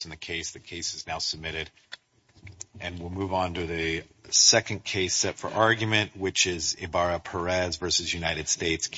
Case No. 24-631. Ibarra-Perez v. United States.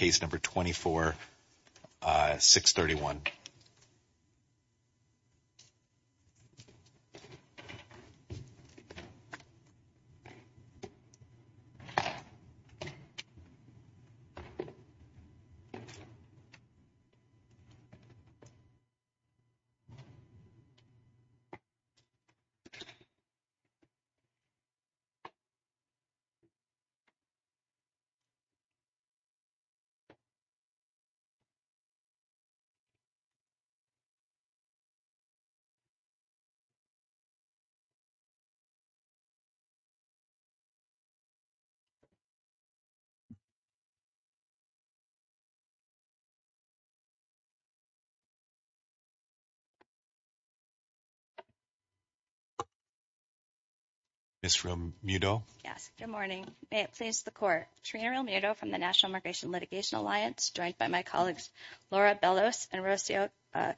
Ms. Realmuto. Yes, good morning. May it please the court. Trina Realmuto from the National Migration Litigation Alliance, joined by my colleagues Laura Bellos and Rocio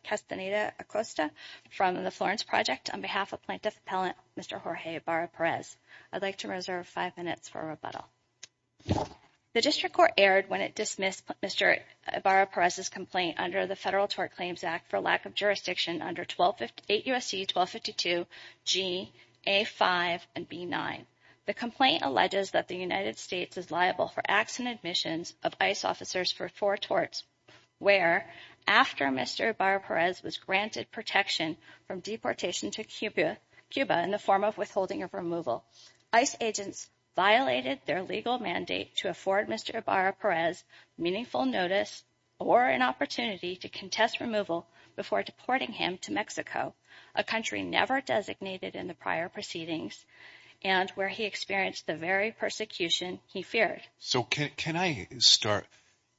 Castaneda Acosta from the Florence Project on behalf of Plaintiff Appellant Mr. Jorge Ibarra-Perez. I'd like to reserve five minutes for rebuttal. The District Court erred when it dismissed Mr. Ibarra-Perez's complaint under the Federal Tort Claims Act for lack of jurisdiction under 8 U.S.C. 1252 G, A5, and B9. The complaint alleges that the United States is liable for acts and admissions of ICE officers for four torts where, after Mr. Ibarra-Perez was granted protection from deportation to Cuba in the form of withholding of removal, ICE agents violated their legal mandate to afford Mr. Ibarra-Perez meaningful notice or an opportunity to contest removal before deporting him to Mexico, a country never designated in the prior proceedings, and where he experienced the very persecution he feared. So can I start?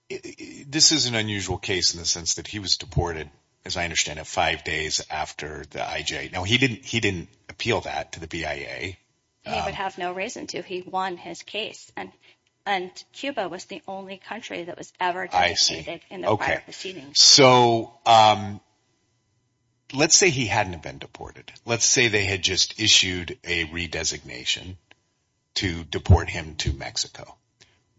This is an unusual case in the sense that he was deported, as I understand it, five days after the IJ. Now, he didn't appeal that to the BIA. He would have no reason to. He won his case, and Cuba was the only country that was ever designated in the prior proceedings. So let's say he hadn't been deported. Let's say they had just issued a redesignation to deport him to Mexico,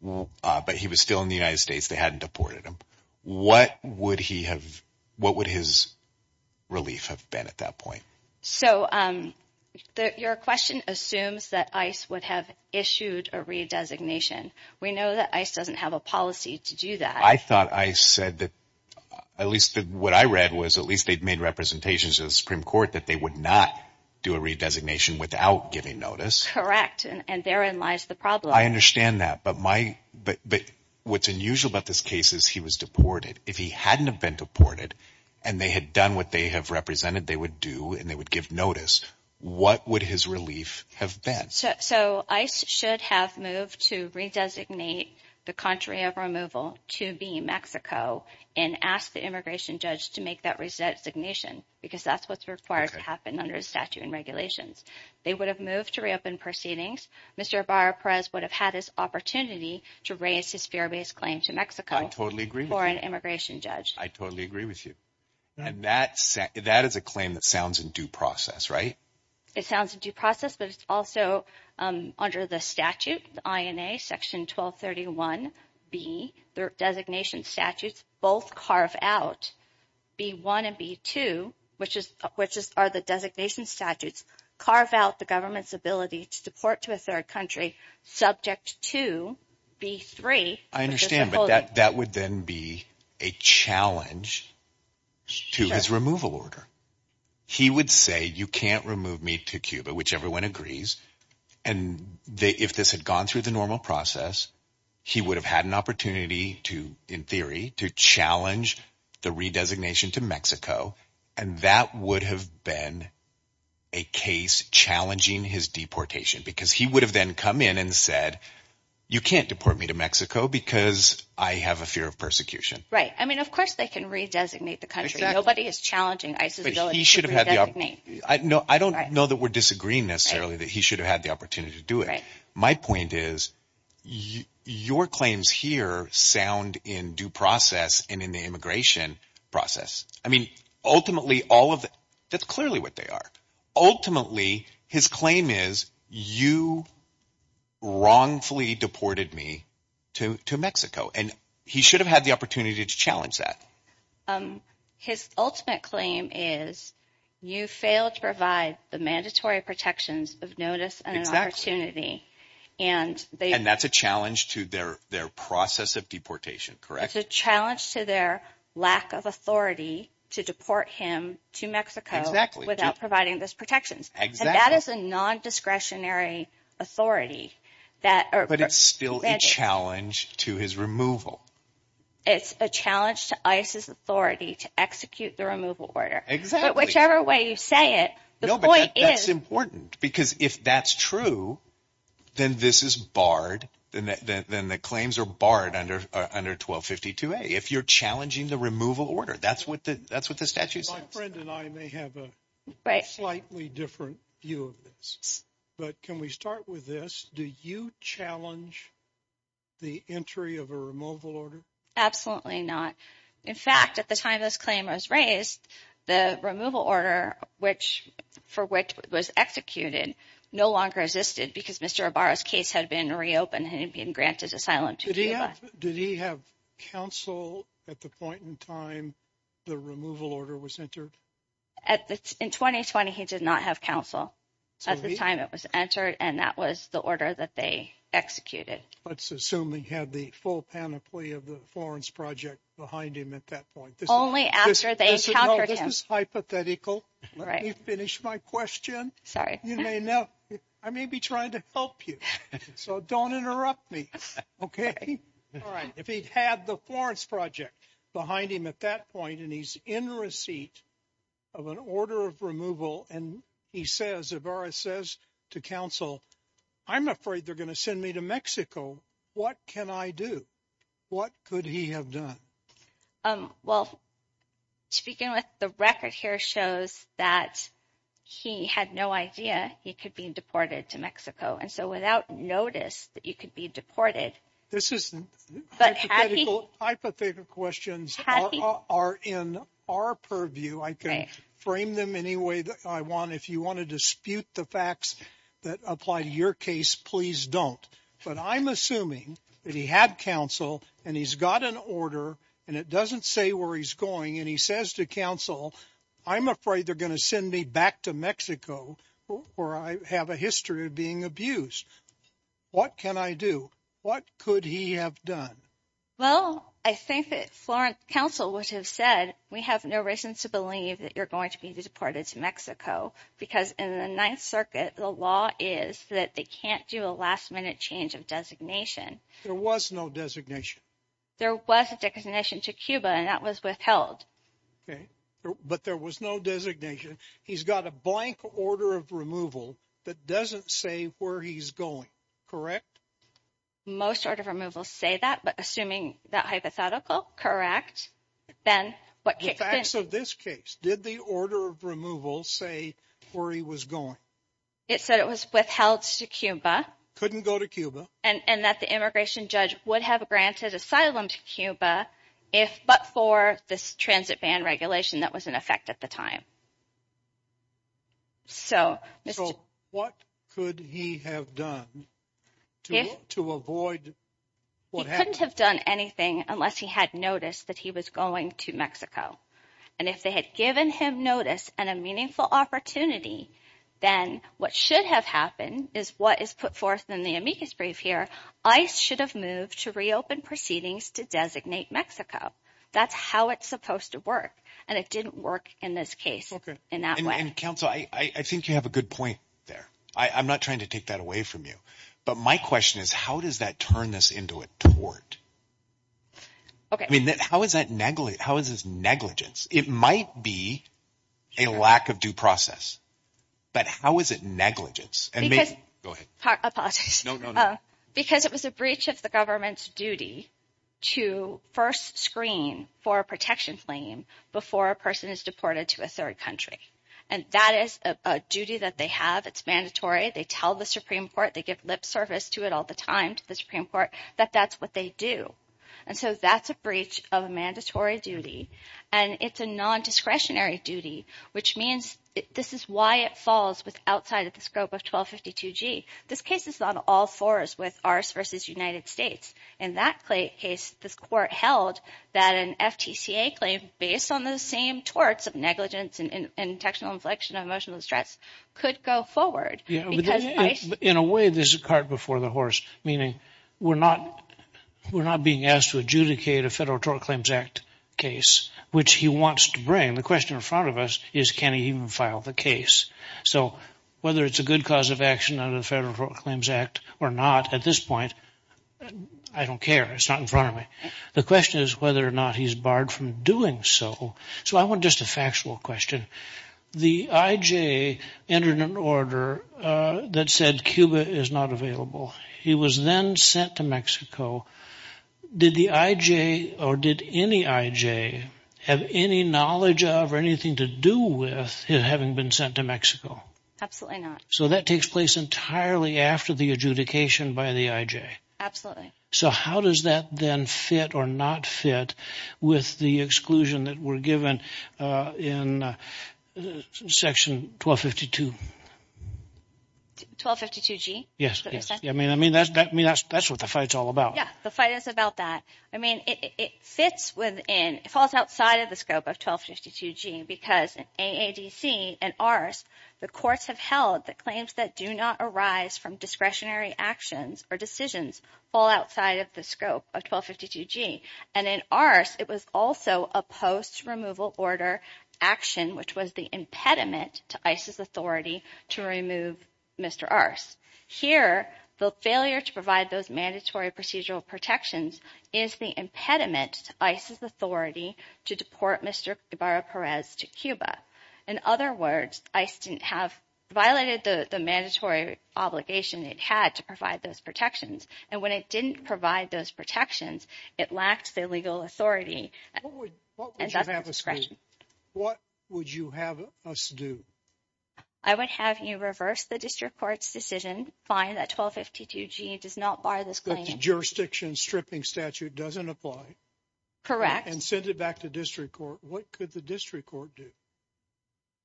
but he was still in the United States. They hadn't deported him. What would his relief have been at that point? So your question assumes that ICE would have issued a redesignation. We know that ICE doesn't have a policy to do that. I thought ICE said that at least what I read was at least they'd made representations to the Supreme Court that they would not do a redesignation without giving notice. Correct, and therein lies the problem. I understand that, but what's unusual about this case is he was deported. If he hadn't have been deported and they had done what they have represented, they would do and they would give notice. What would his relief have been? So ICE should have moved to redesignate the country of removal to be Mexico and ask the immigration judge to make that redesignation because that's what's required to happen under the statute and regulations. They would have moved to reopen proceedings. Mr. Abar Perez would have had his opportunity to raise his fair base claim to Mexico. I totally agree with you. For an immigration judge. I totally agree with you, and that is a claim that sounds in due process, right? It sounds in due process, but it's also under the statute, the INA, section 1231B, the designation statutes both carve out B1 and B2, which are the designation statutes, carve out the government's ability to deport to a third country subject to B3. I understand that that would then be a challenge to his removal order. He would say you can't remove me to Cuba, which everyone agrees. And if this had gone through the normal process, he would have had an opportunity to, in theory, to challenge the redesignation to Mexico. And that would have been a case challenging his deportation because he would have then come in and said, you can't deport me to Mexico because I have a fear of persecution. Right. I mean, of course they can redesignate the country. Nobody is challenging ISIS. I don't know that we're disagreeing necessarily that he should have had the opportunity to do it. My point is your claims here sound in due process and in the immigration process. I mean, ultimately, all of that's clearly what they are. Ultimately, his claim is you wrongfully deported me to Mexico, and he should have had the opportunity to challenge that. His ultimate claim is you failed to provide the mandatory protections of notice and opportunity. And that's a challenge to their process of deportation, correct? It's a challenge to their lack of authority to deport him to Mexico without providing those protections. And that is a non-discretionary authority. But it's still a challenge to his removal. It's a challenge to ISIS authority to execute the removal order. Exactly. Whichever way you say it, the point is. No, but that's important because if that's true, then this is barred. Then the claims are barred under 1252A if you're challenging the removal order. That's what the statute says. My friend and I may have a slightly different view of this. But can we start with this? Do you challenge the entry of a removal order? Absolutely not. In fact, at the time this claim was raised, the removal order for which it was executed no longer existed because Mr. Arbaro's case had been reopened and had been granted asylum to Cuba. Did he have counsel at the point in time the removal order was entered? In 2020, he did not have counsel. At the time it was entered and that was the order that they executed. Let's assume he had the full panoply of the Florence Project behind him at that point. Only after they encountered him. This is hypothetical. Let me finish my question. Sorry. You may know, I may be trying to help you. So don't interrupt me. Okay? All right. If he had the Florence Project behind him at that point and he's in receipt of an order of removal and he says, Avarice says to counsel, I'm afraid they're going to send me to Mexico. What can I do? What could he have done? Well, speaking with the record here shows that he had no idea he could be deported to Mexico. And so without notice that he could be deported. This is hypothetical questions are in our purview. I can frame them any way I want. If you want to dispute the facts that apply to your case, please don't. But I'm assuming that he had counsel and he's got an order and it doesn't say where he's going. And he says to counsel, I'm afraid they're going to send me back to Mexico where I have a history of being abused. What can I do? What could he have done? Well, I think that Florence counsel would have said we have no reason to believe that you're going to be deported to Mexico. Because in the Ninth Circuit, the law is that they can't do a last minute change of designation. There was no designation. There was a designation to Cuba and that was withheld. But there was no designation. He's got a blank order of removal that doesn't say where he's going. Correct? Most order of removal say that, but assuming that hypothetical, correct. The facts of this case, did the order of removal say where he was going? It said it was withheld to Cuba. Couldn't go to Cuba. And that the immigration judge would have granted asylum to Cuba if but for this transit ban regulation that was in effect at the time. So what could he have done to avoid? He couldn't have done anything unless he had noticed that he was going to Mexico. And if they had given him notice and a meaningful opportunity, then what should have happened is what is put forth in the amicus brief here. I should have moved to reopen proceedings to designate Mexico. That's how it's supposed to work. And it didn't work in this case. In that way. Counsel, I think you have a good point there. I'm not trying to take that away from you. But my question is, how does that turn this into a tort? I mean, how is that negligent? How is this negligence? It might be a lack of due process. But how is it negligence? Because it was a breach of the government's duty to first screen for a protection claim before a person is deported to a third country. And that is a duty that they have. They tell the Supreme Court. They give lip service to it all the time to the Supreme Court that that's what they do. And so that's a breach of a mandatory duty. And it's a non-discretionary duty, which means this is why it falls outside of the scope of 1252G. This case is on all fours with ours versus United States. In that case, this court held that an FTCA claim based on the same torts of negligence and intentional inflection of emotional distress could go forward. In a way, this is a cart before the horse, meaning we're not being asked to adjudicate a Federal Tort Claims Act case, which he wants to bring. The question in front of us is can he even file the case? So whether it's a good cause of action under the Federal Tort Claims Act or not at this point, I don't care. It's not in front of me. The question is whether or not he's barred from doing so. So I want just a factual question. The I.J. entered an order that said Cuba is not available. He was then sent to Mexico. Did the I.J. or did any I.J. have any knowledge of or anything to do with him having been sent to Mexico? Absolutely not. So that takes place entirely after the adjudication by the I.J.? Absolutely. So how does that then fit or not fit with the exclusion that we're given in Section 1252? 1252G? Yes. I mean, that's what the fight's all about. Yeah, the fight is about that. I mean, it fits within, it falls outside of the scope of 1252G because in AADC and ARCE, the courts have held that claims that do not arise from discretionary actions or decisions fall outside of the scope of 1252G. And in ARCE, it was also a post-removal order action, which was the impediment to ICE's authority to remove Mr. ARCE. Here, the failure to provide those mandatory procedural protections is the impediment to ICE's authority to deport Mr. Guevara Perez to Cuba. In other words, ICE violated the mandatory obligation it had to provide those protections. And when it didn't provide those protections, it lacked the legal authority. What would you have us do? What would you have us do? I would have you reverse the district court's decision, find that 1252G does not bar this claim. But the jurisdiction stripping statute doesn't apply. Correct. And send it back to district court. What could the district court do?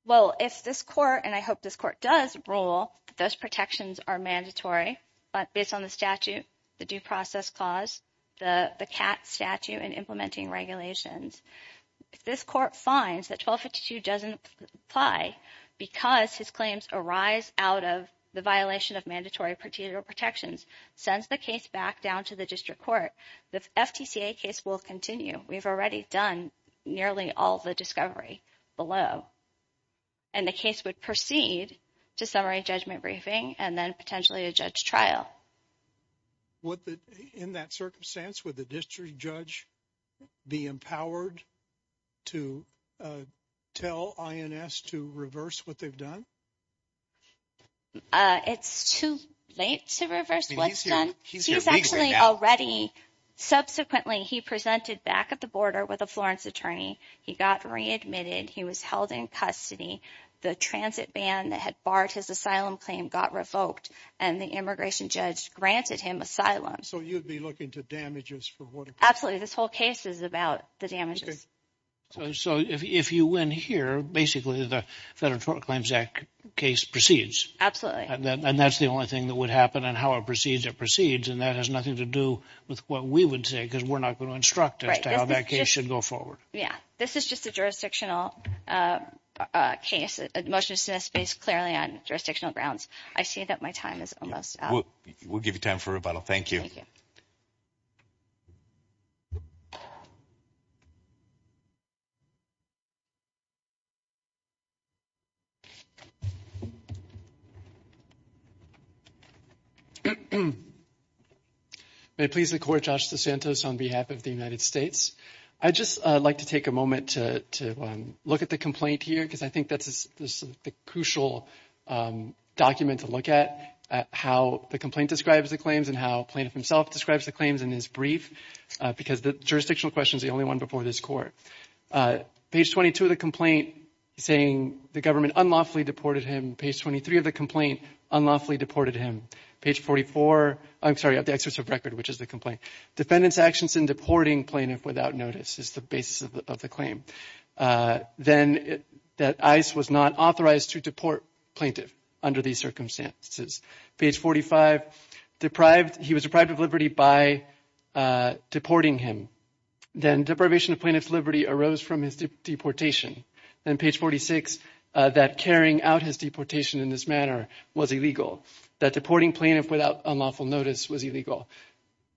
Well, if this court, and I hope this court does rule that those protections are mandatory, but based on the statute, the due process clause, the CAT statute and implementing regulations, if this court finds that 1252 doesn't apply because his claims arise out of the violation of mandatory procedural protections, sends the case back down to the district court, the FTCA case will continue. We've already done nearly all the discovery below. And the case would proceed to summary judgment briefing and then potentially a judge trial. In that circumstance, would the district judge be empowered to tell INS to reverse what they've done? It's too late to reverse what's done. He's actually already. Subsequently, he presented back at the border with a Florence attorney. He got readmitted. He was held in custody. The transit ban that had barred his asylum claim got revoked and the immigration judge granted him asylum. So you'd be looking to damages for what? Absolutely. This whole case is about the damages. So if you win here, basically, the Federal Claims Act case proceeds. And that's the only thing that would happen and how it proceeds. It proceeds. And that has nothing to do with what we would say because we're not going to instruct us to how that case should go forward. Yeah. This is just a jurisdictional case. Most of this is based clearly on jurisdictional grounds. I see that my time is almost up. We'll give you time for rebuttal. Thank you. May it please the Court. Josh DeSantos on behalf of the United States. I'd just like to take a moment to look at the complaint here because I think that's the crucial document to look at, how the complaint describes the claims and how Plaintiff himself describes the claims in his brief, because the jurisdictional question is the only one before this Court. Page 22 of the complaint, saying the government unlawfully deported him. Page 23 of the complaint, unlawfully deported him. Page 44, I'm sorry, of the excess of record, which is the complaint. Defendant's actions in deporting plaintiff without notice is the basis of the claim. Then that ICE was not authorized to deport plaintiff under these circumstances. Page 45, deprived, he was deprived of liberty by deporting him. Then deprivation of plaintiff's liberty arose from his deportation. Then page 46, that carrying out his deportation in this manner was illegal. That deporting plaintiff without unlawful notice was illegal.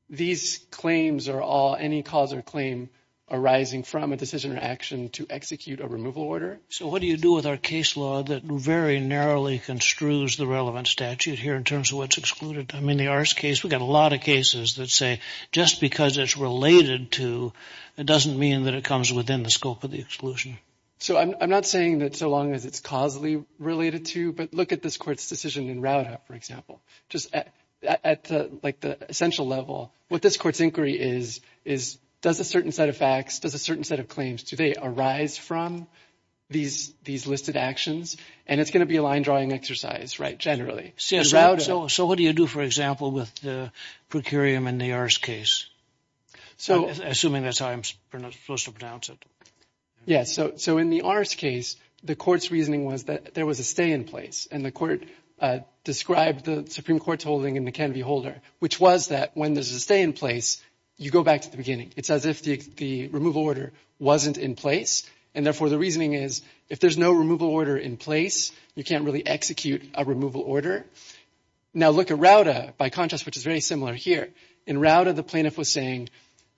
These claims are all any cause or claim arising from a decision or action to execute a removal order. So what do you do with our case law that very narrowly construes the relevant statute here in terms of what's excluded? I mean, the Arce case, we've got a lot of cases that say just because it's related to, it doesn't mean that it comes within the scope of the exclusion. So I'm not saying that so long as it's causally related to, but look at this Court's decision in Rauta, for example. Just at the essential level, what this Court's inquiry is, is does a certain set of facts, does a certain set of claims today arise from these listed actions? And it's going to be a line-drawing exercise, right, generally. So what do you do, for example, with the procurium in the Arce case? Assuming that's how I'm supposed to pronounce it. Yeah, so in the Arce case, the Court's reasoning was that there was a stay in place, and the Court described the Supreme Court's holding in the Canvey Holder, which was that when there's a stay in place, you go back to the beginning. It's as if the removal order wasn't in place, and therefore the reasoning is if there's no removal order in place, you can't really execute a removal order. Now look at Rauta by contrast, which is very similar here. In Rauta, the plaintiff was saying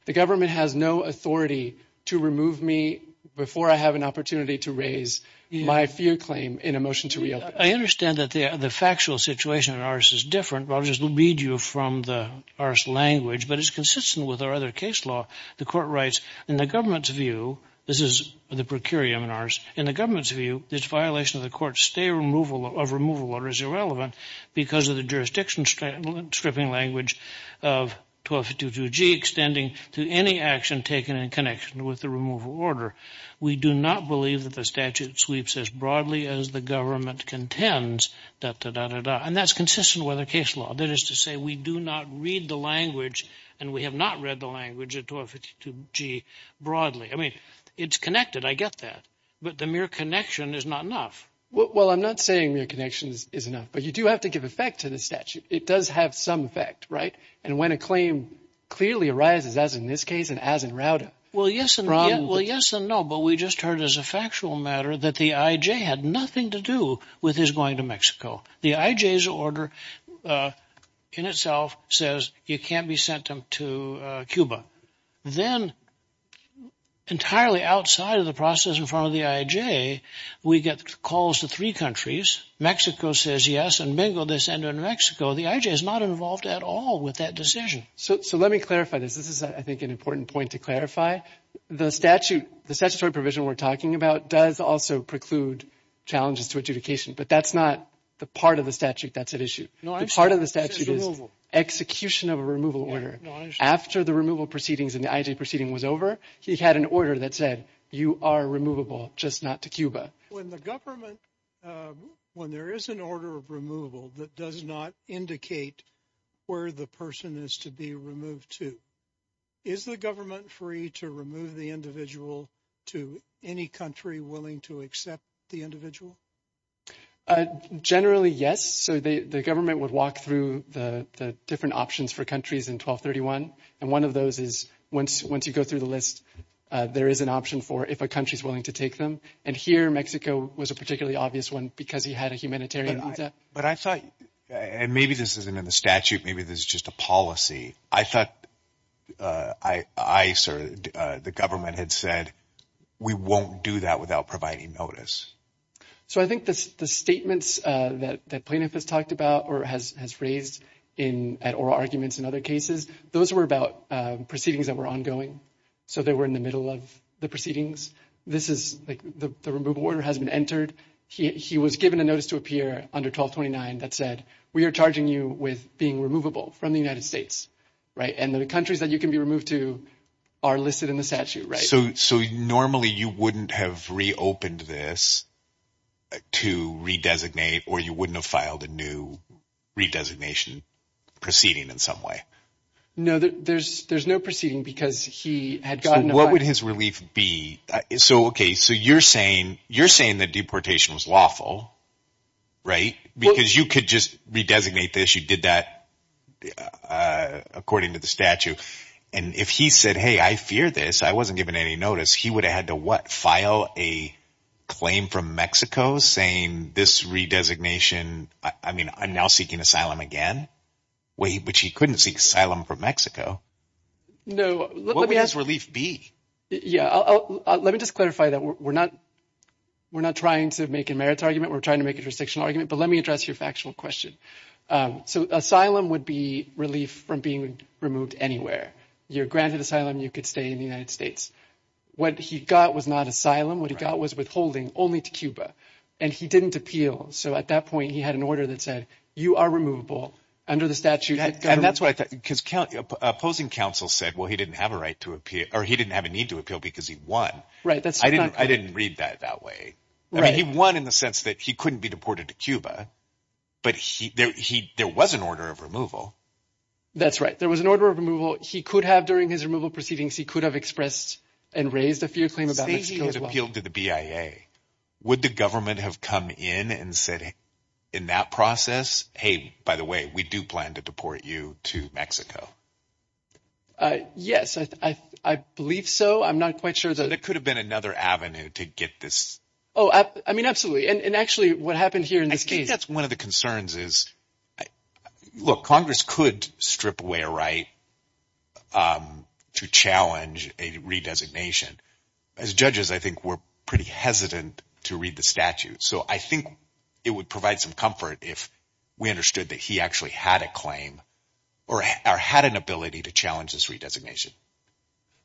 the government has no authority to remove me before I have an opportunity to raise my fear claim in a motion to reopen. I understand that the factual situation in Arce is different. I'll just read you from the Arce language, but it's consistent with our other case law. The Court writes, in the government's view, this is the procurium in Arce, in the government's view, this violation of the court's stay of removal order is irrelevant because of the jurisdiction stripping language of 1252G, to any action taken in connection with the removal order. We do not believe that the statute sweeps as broadly as the government contends, and that's consistent with our case law. That is to say we do not read the language, and we have not read the language of 1252G broadly. I mean, it's connected. I get that. But the mere connection is not enough. Well, I'm not saying mere connection is enough, but you do have to give effect to the statute. It does have some effect, right? And when a claim clearly arises, as in this case and as in Rauda. Well, yes and no, but we just heard as a factual matter that the IJ had nothing to do with his going to Mexico. The IJ's order in itself says you can't be sent to Cuba. Then, entirely outside of the process in front of the IJ, we get calls to three countries. Mexico says yes, and bingo, they send him to Mexico. The IJ is not involved at all with that decision. So let me clarify this. This is, I think, an important point to clarify. The statute, the statutory provision we're talking about does also preclude challenges to adjudication, but that's not the part of the statute that's at issue. The part of the statute is execution of a removal order. After the removal proceedings and the IJ proceeding was over, he had an order that said you are removable, just not to Cuba. When the government, when there is an order of removal that does not indicate where the person is to be removed to, is the government free to remove the individual to any country willing to accept the individual? Generally, yes. So the government would walk through the different options for countries in 1231, and one of those is once you go through the list, there is an option for if a country is willing to take them. And here, Mexico was a particularly obvious one because he had a humanitarian visa. But I thought, and maybe this isn't in the statute. Maybe this is just a policy. I thought ICE or the government had said we won't do that without providing notice. So I think the statements that plaintiff has talked about or has raised at oral arguments in other cases, those were about proceedings that were ongoing. So they were in the middle of the proceedings. This is the removal order has been entered. He was given a notice to appear under 1229 that said we are charging you with being removable from the United States. And the countries that you can be removed to are listed in the statute. So normally you wouldn't have reopened this to redesignate or you wouldn't have filed a new redesignation proceeding in some way? No, there is no proceeding because he had gotten a file. Relief B. So you're saying the deportation was lawful, right? Because you could just redesignate this. You did that according to the statute. And if he said, hey, I fear this, I wasn't given any notice, he would have had to what? File a claim from Mexico saying this redesignation – I mean I'm now seeking asylum again? Which he couldn't seek asylum from Mexico. No. What would his relief be? Let me just clarify that. We're not trying to make a merits argument. We're trying to make a jurisdictional argument. But let me address your factual question. So asylum would be relief from being removed anywhere. You're granted asylum. You could stay in the United States. What he got was not asylum. What he got was withholding only to Cuba. And he didn't appeal. So at that point he had an order that said you are removable under the statute. And that's what I thought because opposing counsel said, well, he didn't have a right to appeal – or he didn't have a need to appeal because he won. I didn't read that that way. He won in the sense that he couldn't be deported to Cuba. But there was an order of removal. That's right. There was an order of removal. He could have during his removal proceedings. He could have expressed and raised a fear claim about Mexico as well. Say he had appealed to the BIA. Would the government have come in and said in that process, hey, by the way, we do plan to deport you to Mexico? Yes, I believe so. I'm not quite sure. But it could have been another avenue to get this. Oh, I mean, absolutely. And actually what happened here in this case. I think that's one of the concerns is, look, Congress could strip away a right to challenge a redesignation. As judges, I think we're pretty hesitant to read the statute. So I think it would provide some comfort if we understood that he actually had a claim or had an ability to challenge this redesignation.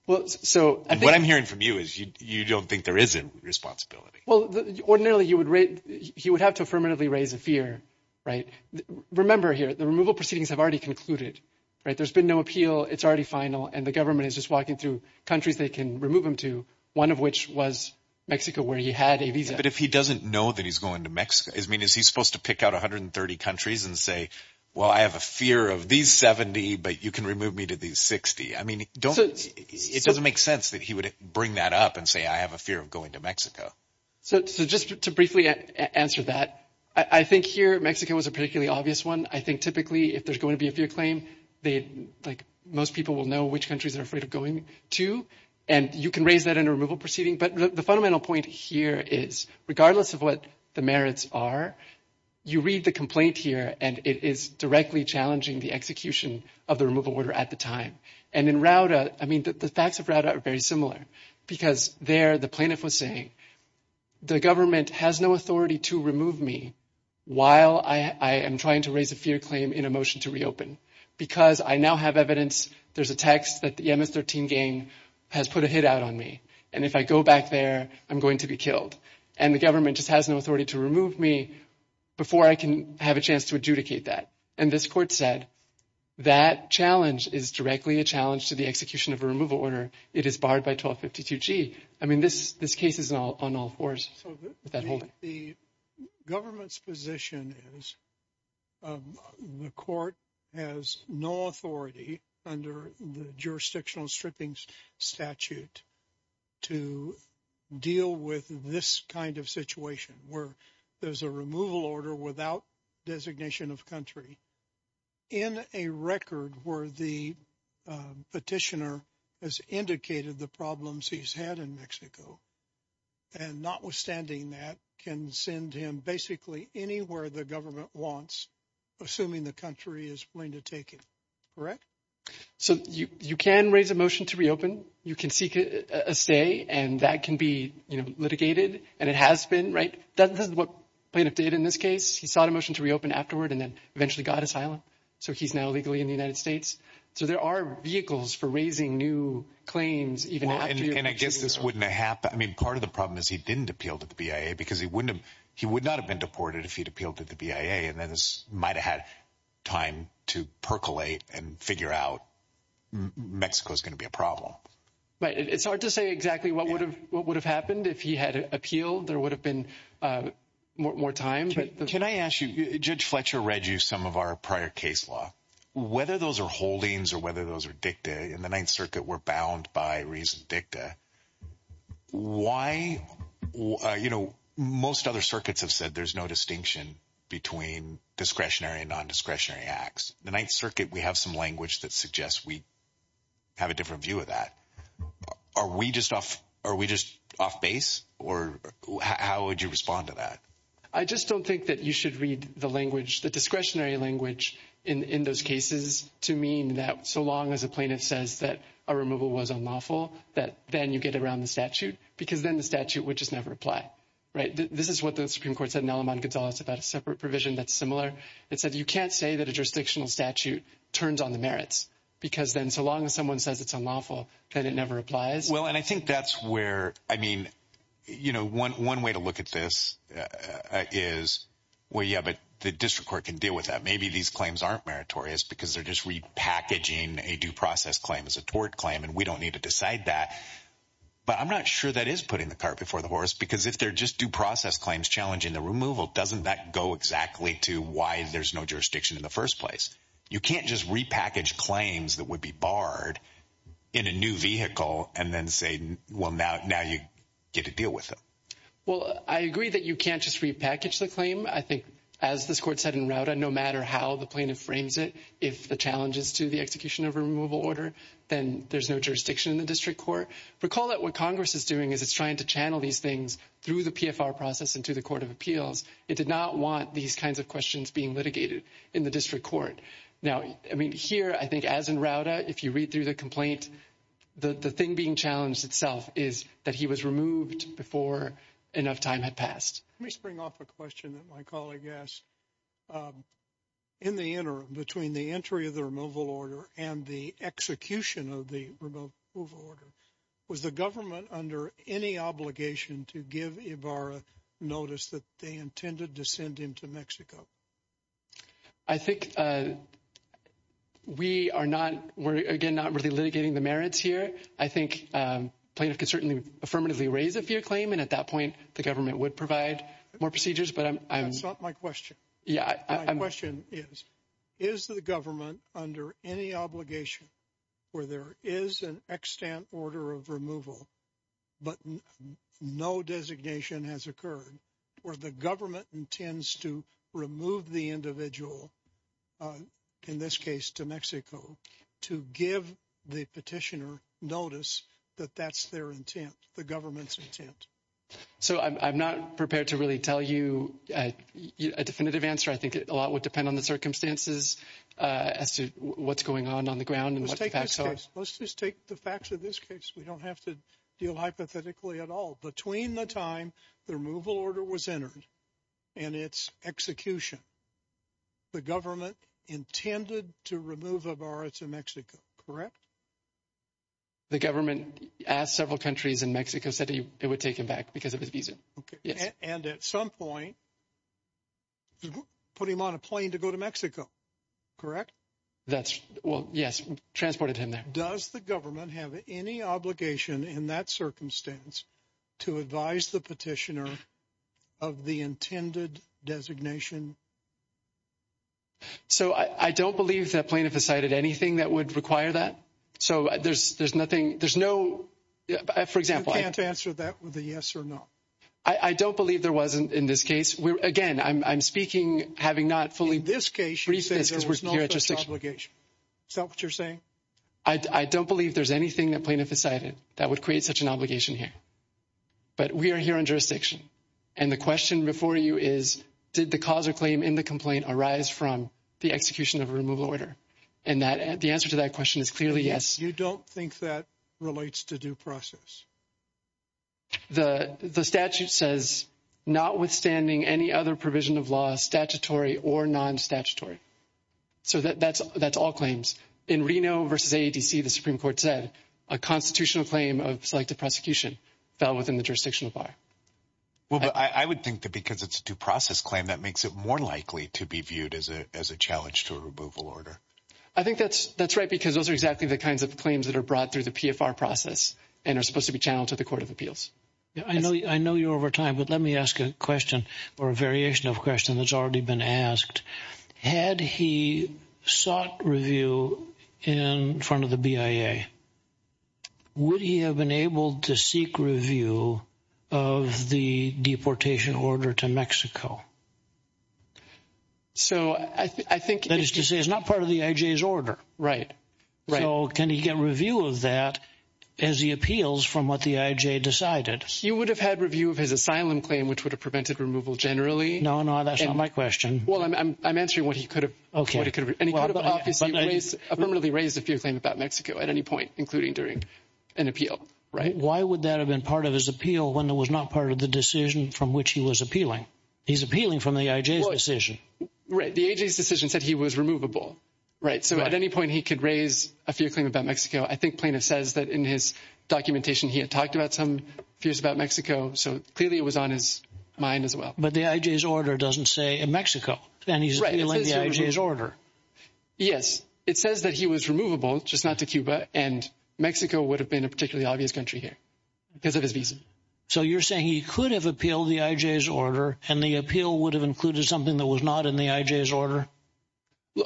Well, so what I'm hearing from you is you don't think there is a responsibility. Well, ordinarily you would. He would have to affirmatively raise a fear. Right. Remember here, the removal proceedings have already concluded. Right. There's been no appeal. It's already final. And the government is just walking through countries they can remove him to, one of which was Mexico, where he had a visa. But if he doesn't know that he's going to Mexico, I mean, is he supposed to pick out 130 countries and say, well, I have a fear of these 70, but you can remove me to these 60? I mean, it doesn't make sense that he would bring that up and say I have a fear of going to Mexico. So just to briefly answer that, I think here Mexico was a particularly obvious one. I think typically if there's going to be a fear claim, like most people will know which countries they're afraid of going to. And you can raise that in a removal proceeding. But the fundamental point here is regardless of what the merits are, you read the complaint here, and it is directly challenging the execution of the removal order at the time. And in Rauda, I mean, the facts of Rauda are very similar because there the plaintiff was saying the government has no authority to remove me while I am trying to raise a fear claim in a motion to reopen because I now have evidence. There's a text that the MS-13 gang has put a hit out on me. And if I go back there, I'm going to be killed. And the government just has no authority to remove me before I can have a chance to adjudicate that. And this court said that challenge is directly a challenge to the execution of a removal order. It is barred by 1252G. I mean, this this case is on all fours. So the government's position is the court has no authority under the jurisdictional strippings statute to deal with this kind of situation where there's a removal order without designation of country. In a record where the petitioner has indicated the problems he's had in Mexico and notwithstanding that can send him basically anywhere the government wants, assuming the country is willing to take it. Correct. So you can raise a motion to reopen. You can seek a stay and that can be litigated. And it has been right. This is what plaintiff did in this case. He sought a motion to reopen afterward and then eventually got asylum. So he's now legally in the United States. So there are vehicles for raising new claims. Even I guess this wouldn't happen. I mean, part of the problem is he didn't appeal to the BIA because he wouldn't have he would not have been deported if he'd appealed to the BIA. And then this might have had time to percolate and figure out Mexico is going to be a problem. But it's hard to say exactly what would have what would have happened if he had appealed. There would have been more time. Can I ask you, Judge Fletcher, read you some of our prior case law, whether those are holdings or whether those are dictated in the Ninth Circuit were bound by reason dicta. Why? You know, most other circuits have said there's no distinction between discretionary and nondiscretionary acts. The Ninth Circuit, we have some language that suggests we have a different view of that. Are we just off? Are we just off base? Or how would you respond to that? I just don't think that you should read the language, the discretionary language in those cases to mean that so long as a plaintiff says that a removal was unlawful, that then you get around the statute because then the statute would just never apply. Right. This is what the Supreme Court said. It's about a separate provision that's similar. It said you can't say that a jurisdictional statute turns on the merits because then so long as someone says it's unlawful, then it never applies. Well, and I think that's where I mean, you know, one one way to look at this is, well, yeah, but the district court can deal with that. Maybe these claims aren't meritorious because they're just repackaging a due process claim as a tort claim. And we don't need to decide that. But I'm not sure that is putting the cart before the horse, because if they're just due process claims challenging the removal, doesn't that go exactly to why there's no jurisdiction in the first place? You can't just repackage claims that would be barred in a new vehicle and then say, well, now now you get to deal with it. Well, I agree that you can't just repackage the claim. I think, as this court said in Rauta, no matter how the plaintiff frames it, if the challenges to the execution of removal order, then there's no jurisdiction in the district court. Recall that what Congress is doing is it's trying to channel these things through the PFR process into the court of appeals. It did not want these kinds of questions being litigated in the district court. Now, I mean, here, I think, as in Rauta, if you read through the complaint, the thing being challenged itself is that he was removed before enough time had passed. Let me spring off a question that my colleague asked in the interim between the entry of the removal order and the execution of the removal order. Was the government under any obligation to give Ibarra notice that they intended to send him to Mexico? I think we are not. We're, again, not really litigating the merits here. I think plaintiff can certainly affirmatively raise a fear claim. And at that point, the government would provide more procedures. But I'm not my question. Yeah, I'm question is, is the government under any obligation where there is an extent order of removal, but no designation has occurred or the government intends to remove the individual, in this case to Mexico, to give the petitioner notice. But that's their intent. The government's intent. So I'm not prepared to really tell you a definitive answer. I think a lot would depend on the circumstances as to what's going on on the ground. So let's just take the facts of this case. We don't have to deal hypothetically at all. Between the time the removal order was entered and its execution, the government intended to remove Ibarra to Mexico, correct? The government asked several countries in Mexico said it would take him back because of his visa. And at some point, put him on a plane to go to Mexico, correct? That's well, yes, transported him there. Does the government have any obligation in that circumstance to advise the petitioner of the intended designation? So I don't believe that plaintiff has cited anything that would require that. So there's there's nothing there's no. For example, I can't answer that with a yes or no. I don't believe there wasn't in this case. Again, I'm speaking, having not fully this case. She says there was no obligation. So what you're saying, I don't believe there's anything that plaintiff decided that would create such an obligation here. But we are here in jurisdiction. And the question before you is, did the cause or claim in the complaint arise from the execution of a removal order? And that the answer to that question is clearly yes. You don't think that relates to due process. The statute says notwithstanding any other provision of law, statutory or non-statutory. So that's that's all claims in Reno versus ADC. The Supreme Court said a constitutional claim of selective prosecution fell within the jurisdiction of our. Well, I would think that because it's due process claim, that makes it more likely to be viewed as a as a challenge to a removal order. I think that's that's right, because those are exactly the kinds of claims that are brought through the PFR process and are supposed to be channeled to the Court of Appeals. I know I know you over time, but let me ask a question or a variation of question that's already been asked. Had he sought review in front of the BIA? Would he have been able to seek review of the deportation order to Mexico? So I think that is to say it's not part of the IJ's order. Right. Right. So can he get review of that as he appeals from what the IJ decided? He would have had review of his asylum claim, which would have prevented removal generally. No, no, that's not my question. Well, I'm answering what he could have. OK. And he could have obviously raised a permanently raised a fear claim about Mexico at any point, including during an appeal. Right. Why would that have been part of his appeal when it was not part of the decision from which he was appealing? He's appealing from the IJ's decision. Right. The IJ's decision said he was removable. Right. So at any point he could raise a fear claim about Mexico. I think Plano says that in his documentation he had talked about some fears about Mexico. So clearly it was on his mind as well. But the IJ's order doesn't say in Mexico. And he's appealing the IJ's order. Yes. It says that he was removable, just not to Cuba. And Mexico would have been a particularly obvious country here because of his visa. So you're saying he could have appealed the IJ's order and the appeal would have included something that was not in the IJ's order?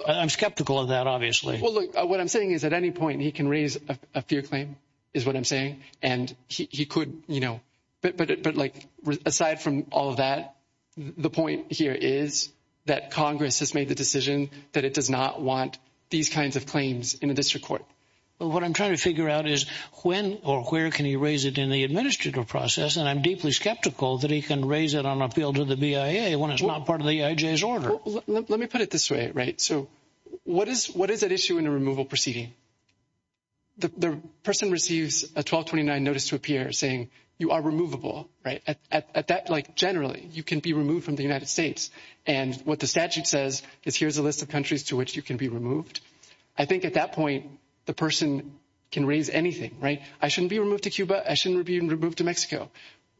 I'm skeptical of that, obviously. Well, look, what I'm saying is at any point he can raise a fear claim is what I'm saying. And he could, you know, but like aside from all of that, the point here is that Congress has made the decision that it does not want these kinds of claims in a district court. Well, what I'm trying to figure out is when or where can he raise it in the administrative process? And I'm deeply skeptical that he can raise it on appeal to the BIA when it's not part of the IJ's order. Let me put it this way. Right. So what is what is at issue in a removal proceeding? The person receives a 1229 notice to appear saying you are removable. Right. At that like generally you can be removed from the United States. And what the statute says is here's a list of countries to which you can be removed. I think at that point the person can raise anything. Right. I shouldn't be removed to Cuba. I shouldn't be removed to Mexico.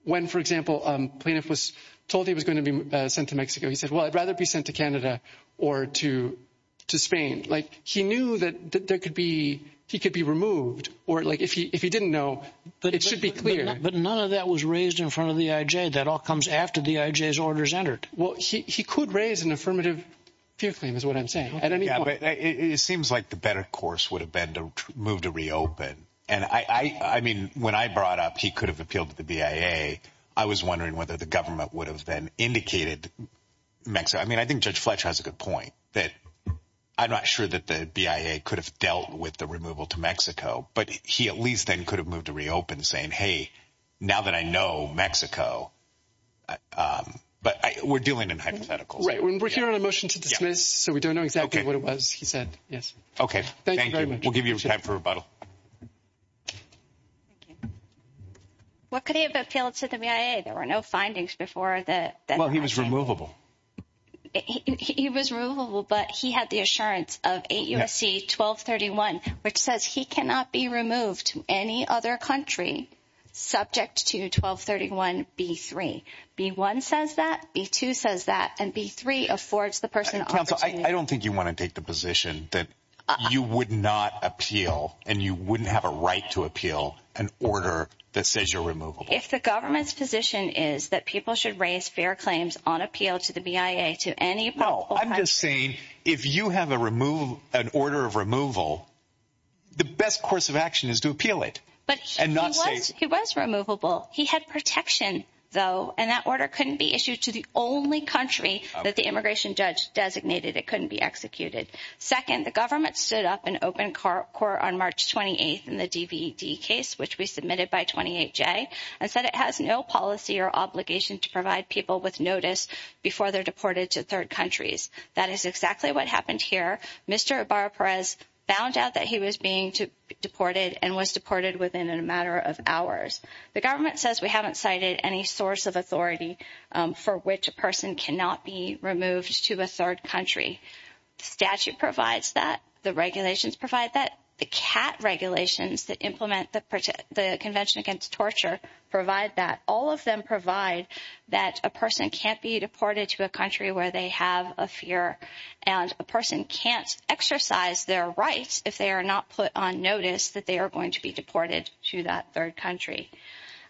When, for example, a plaintiff was told he was going to be sent to Mexico. He said, well, I'd rather be sent to Canada or to to Spain. Like he knew that there could be he could be removed or like if he if he didn't know, but it should be clear. But none of that was raised in front of the IJ. That all comes after the IJ's orders entered. Well, he could raise an affirmative fear claim is what I'm saying. At any point. It seems like the better course would have been to move to reopen. And I mean, when I brought up he could have appealed to the BIA. I was wondering whether the government would have been indicated Mexico. I mean, I think Judge Fletcher has a good point that I'm not sure that the BIA could have dealt with the removal to Mexico. But he at least then could have moved to reopen saying, hey, now that I know Mexico. But we're dealing in hypotheticals. Right. We're here on a motion to dismiss. So we don't know exactly what it was. He said. Yes. OK. Thank you very much. We'll give you time for rebuttal. What could he have appealed to the BIA? There were no findings before that. Well, he was removable. He was removable, but he had the assurance of a USC 1231, which says he cannot be removed to any other country subject to 1231. B3B1 says that B2 says that and B3 affords the person. I don't think you want to take the position that you would not appeal and you wouldn't have a right to appeal an order that says you're removable. If the government's position is that people should raise fair claims on appeal to the BIA to any. No, I'm just saying if you have a remove an order of removal, the best course of action is to appeal it and not say it was removable. He had protection, though, and that order couldn't be issued to the only country that the immigration judge designated. It couldn't be executed. Second, the government stood up an open court on March 28th in the DVD case, which we submitted by 28 J. And said it has no policy or obligation to provide people with notice before they're deported to third countries. That is exactly what happened here. Mr. Barberas found out that he was being deported and was deported within a matter of hours. The government says we haven't cited any source of authority for which a person cannot be removed to a third country. Statute provides that the regulations provide that the cat regulations that implement the convention against torture provide that all of them provide. That a person can't be deported to a country where they have a fear and a person can't exercise their rights. If they are not put on notice that they are going to be deported to that third country.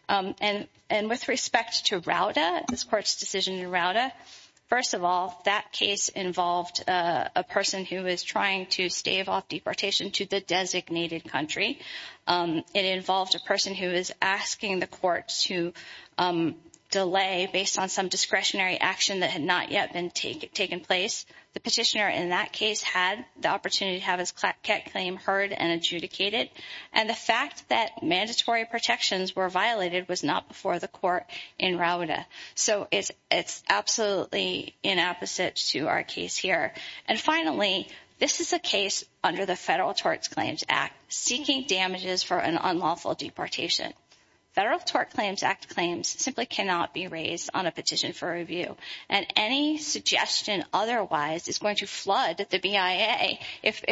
And with respect to Rauda, this court's decision in Rauda, first of all, that case involved a person who is trying to stave off deportation to the designated country. It involved a person who is asking the court to delay based on some discretionary action that had not yet been taken place. The petitioner in that case had the opportunity to have his claim heard and adjudicated. And the fact that mandatory protections were violated was not before the court in Rauda. So it's absolutely inapposite to our case here. And finally, this is a case under the Federal Tort Claims Act seeking damages for an unlawful deportation. Federal Tort Claims Act claims simply cannot be raised on a petition for review. And any suggestion otherwise is going to flood the BIA. If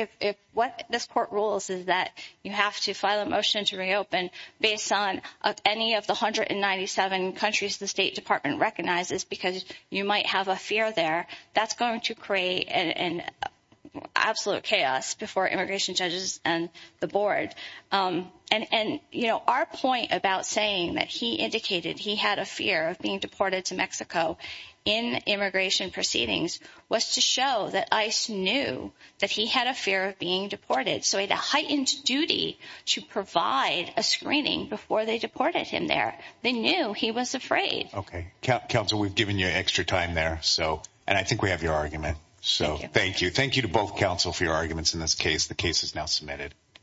what this court rules is that you have to file a motion to reopen based on any of the 197 countries the State Department recognizes because you might have a fear there. That's going to create an absolute chaos before immigration judges and the board. Our point about saying that he indicated he had a fear of being deported to Mexico in immigration proceedings was to show that ICE knew that he had a fear of being deported. So he had a heightened duty to provide a screening before they deported him there. They knew he was afraid. Okay. Counsel, we've given you extra time there. And I think we have your argument. Thank you. Thank you to both counsel for your arguments in this case. The case is now submitted.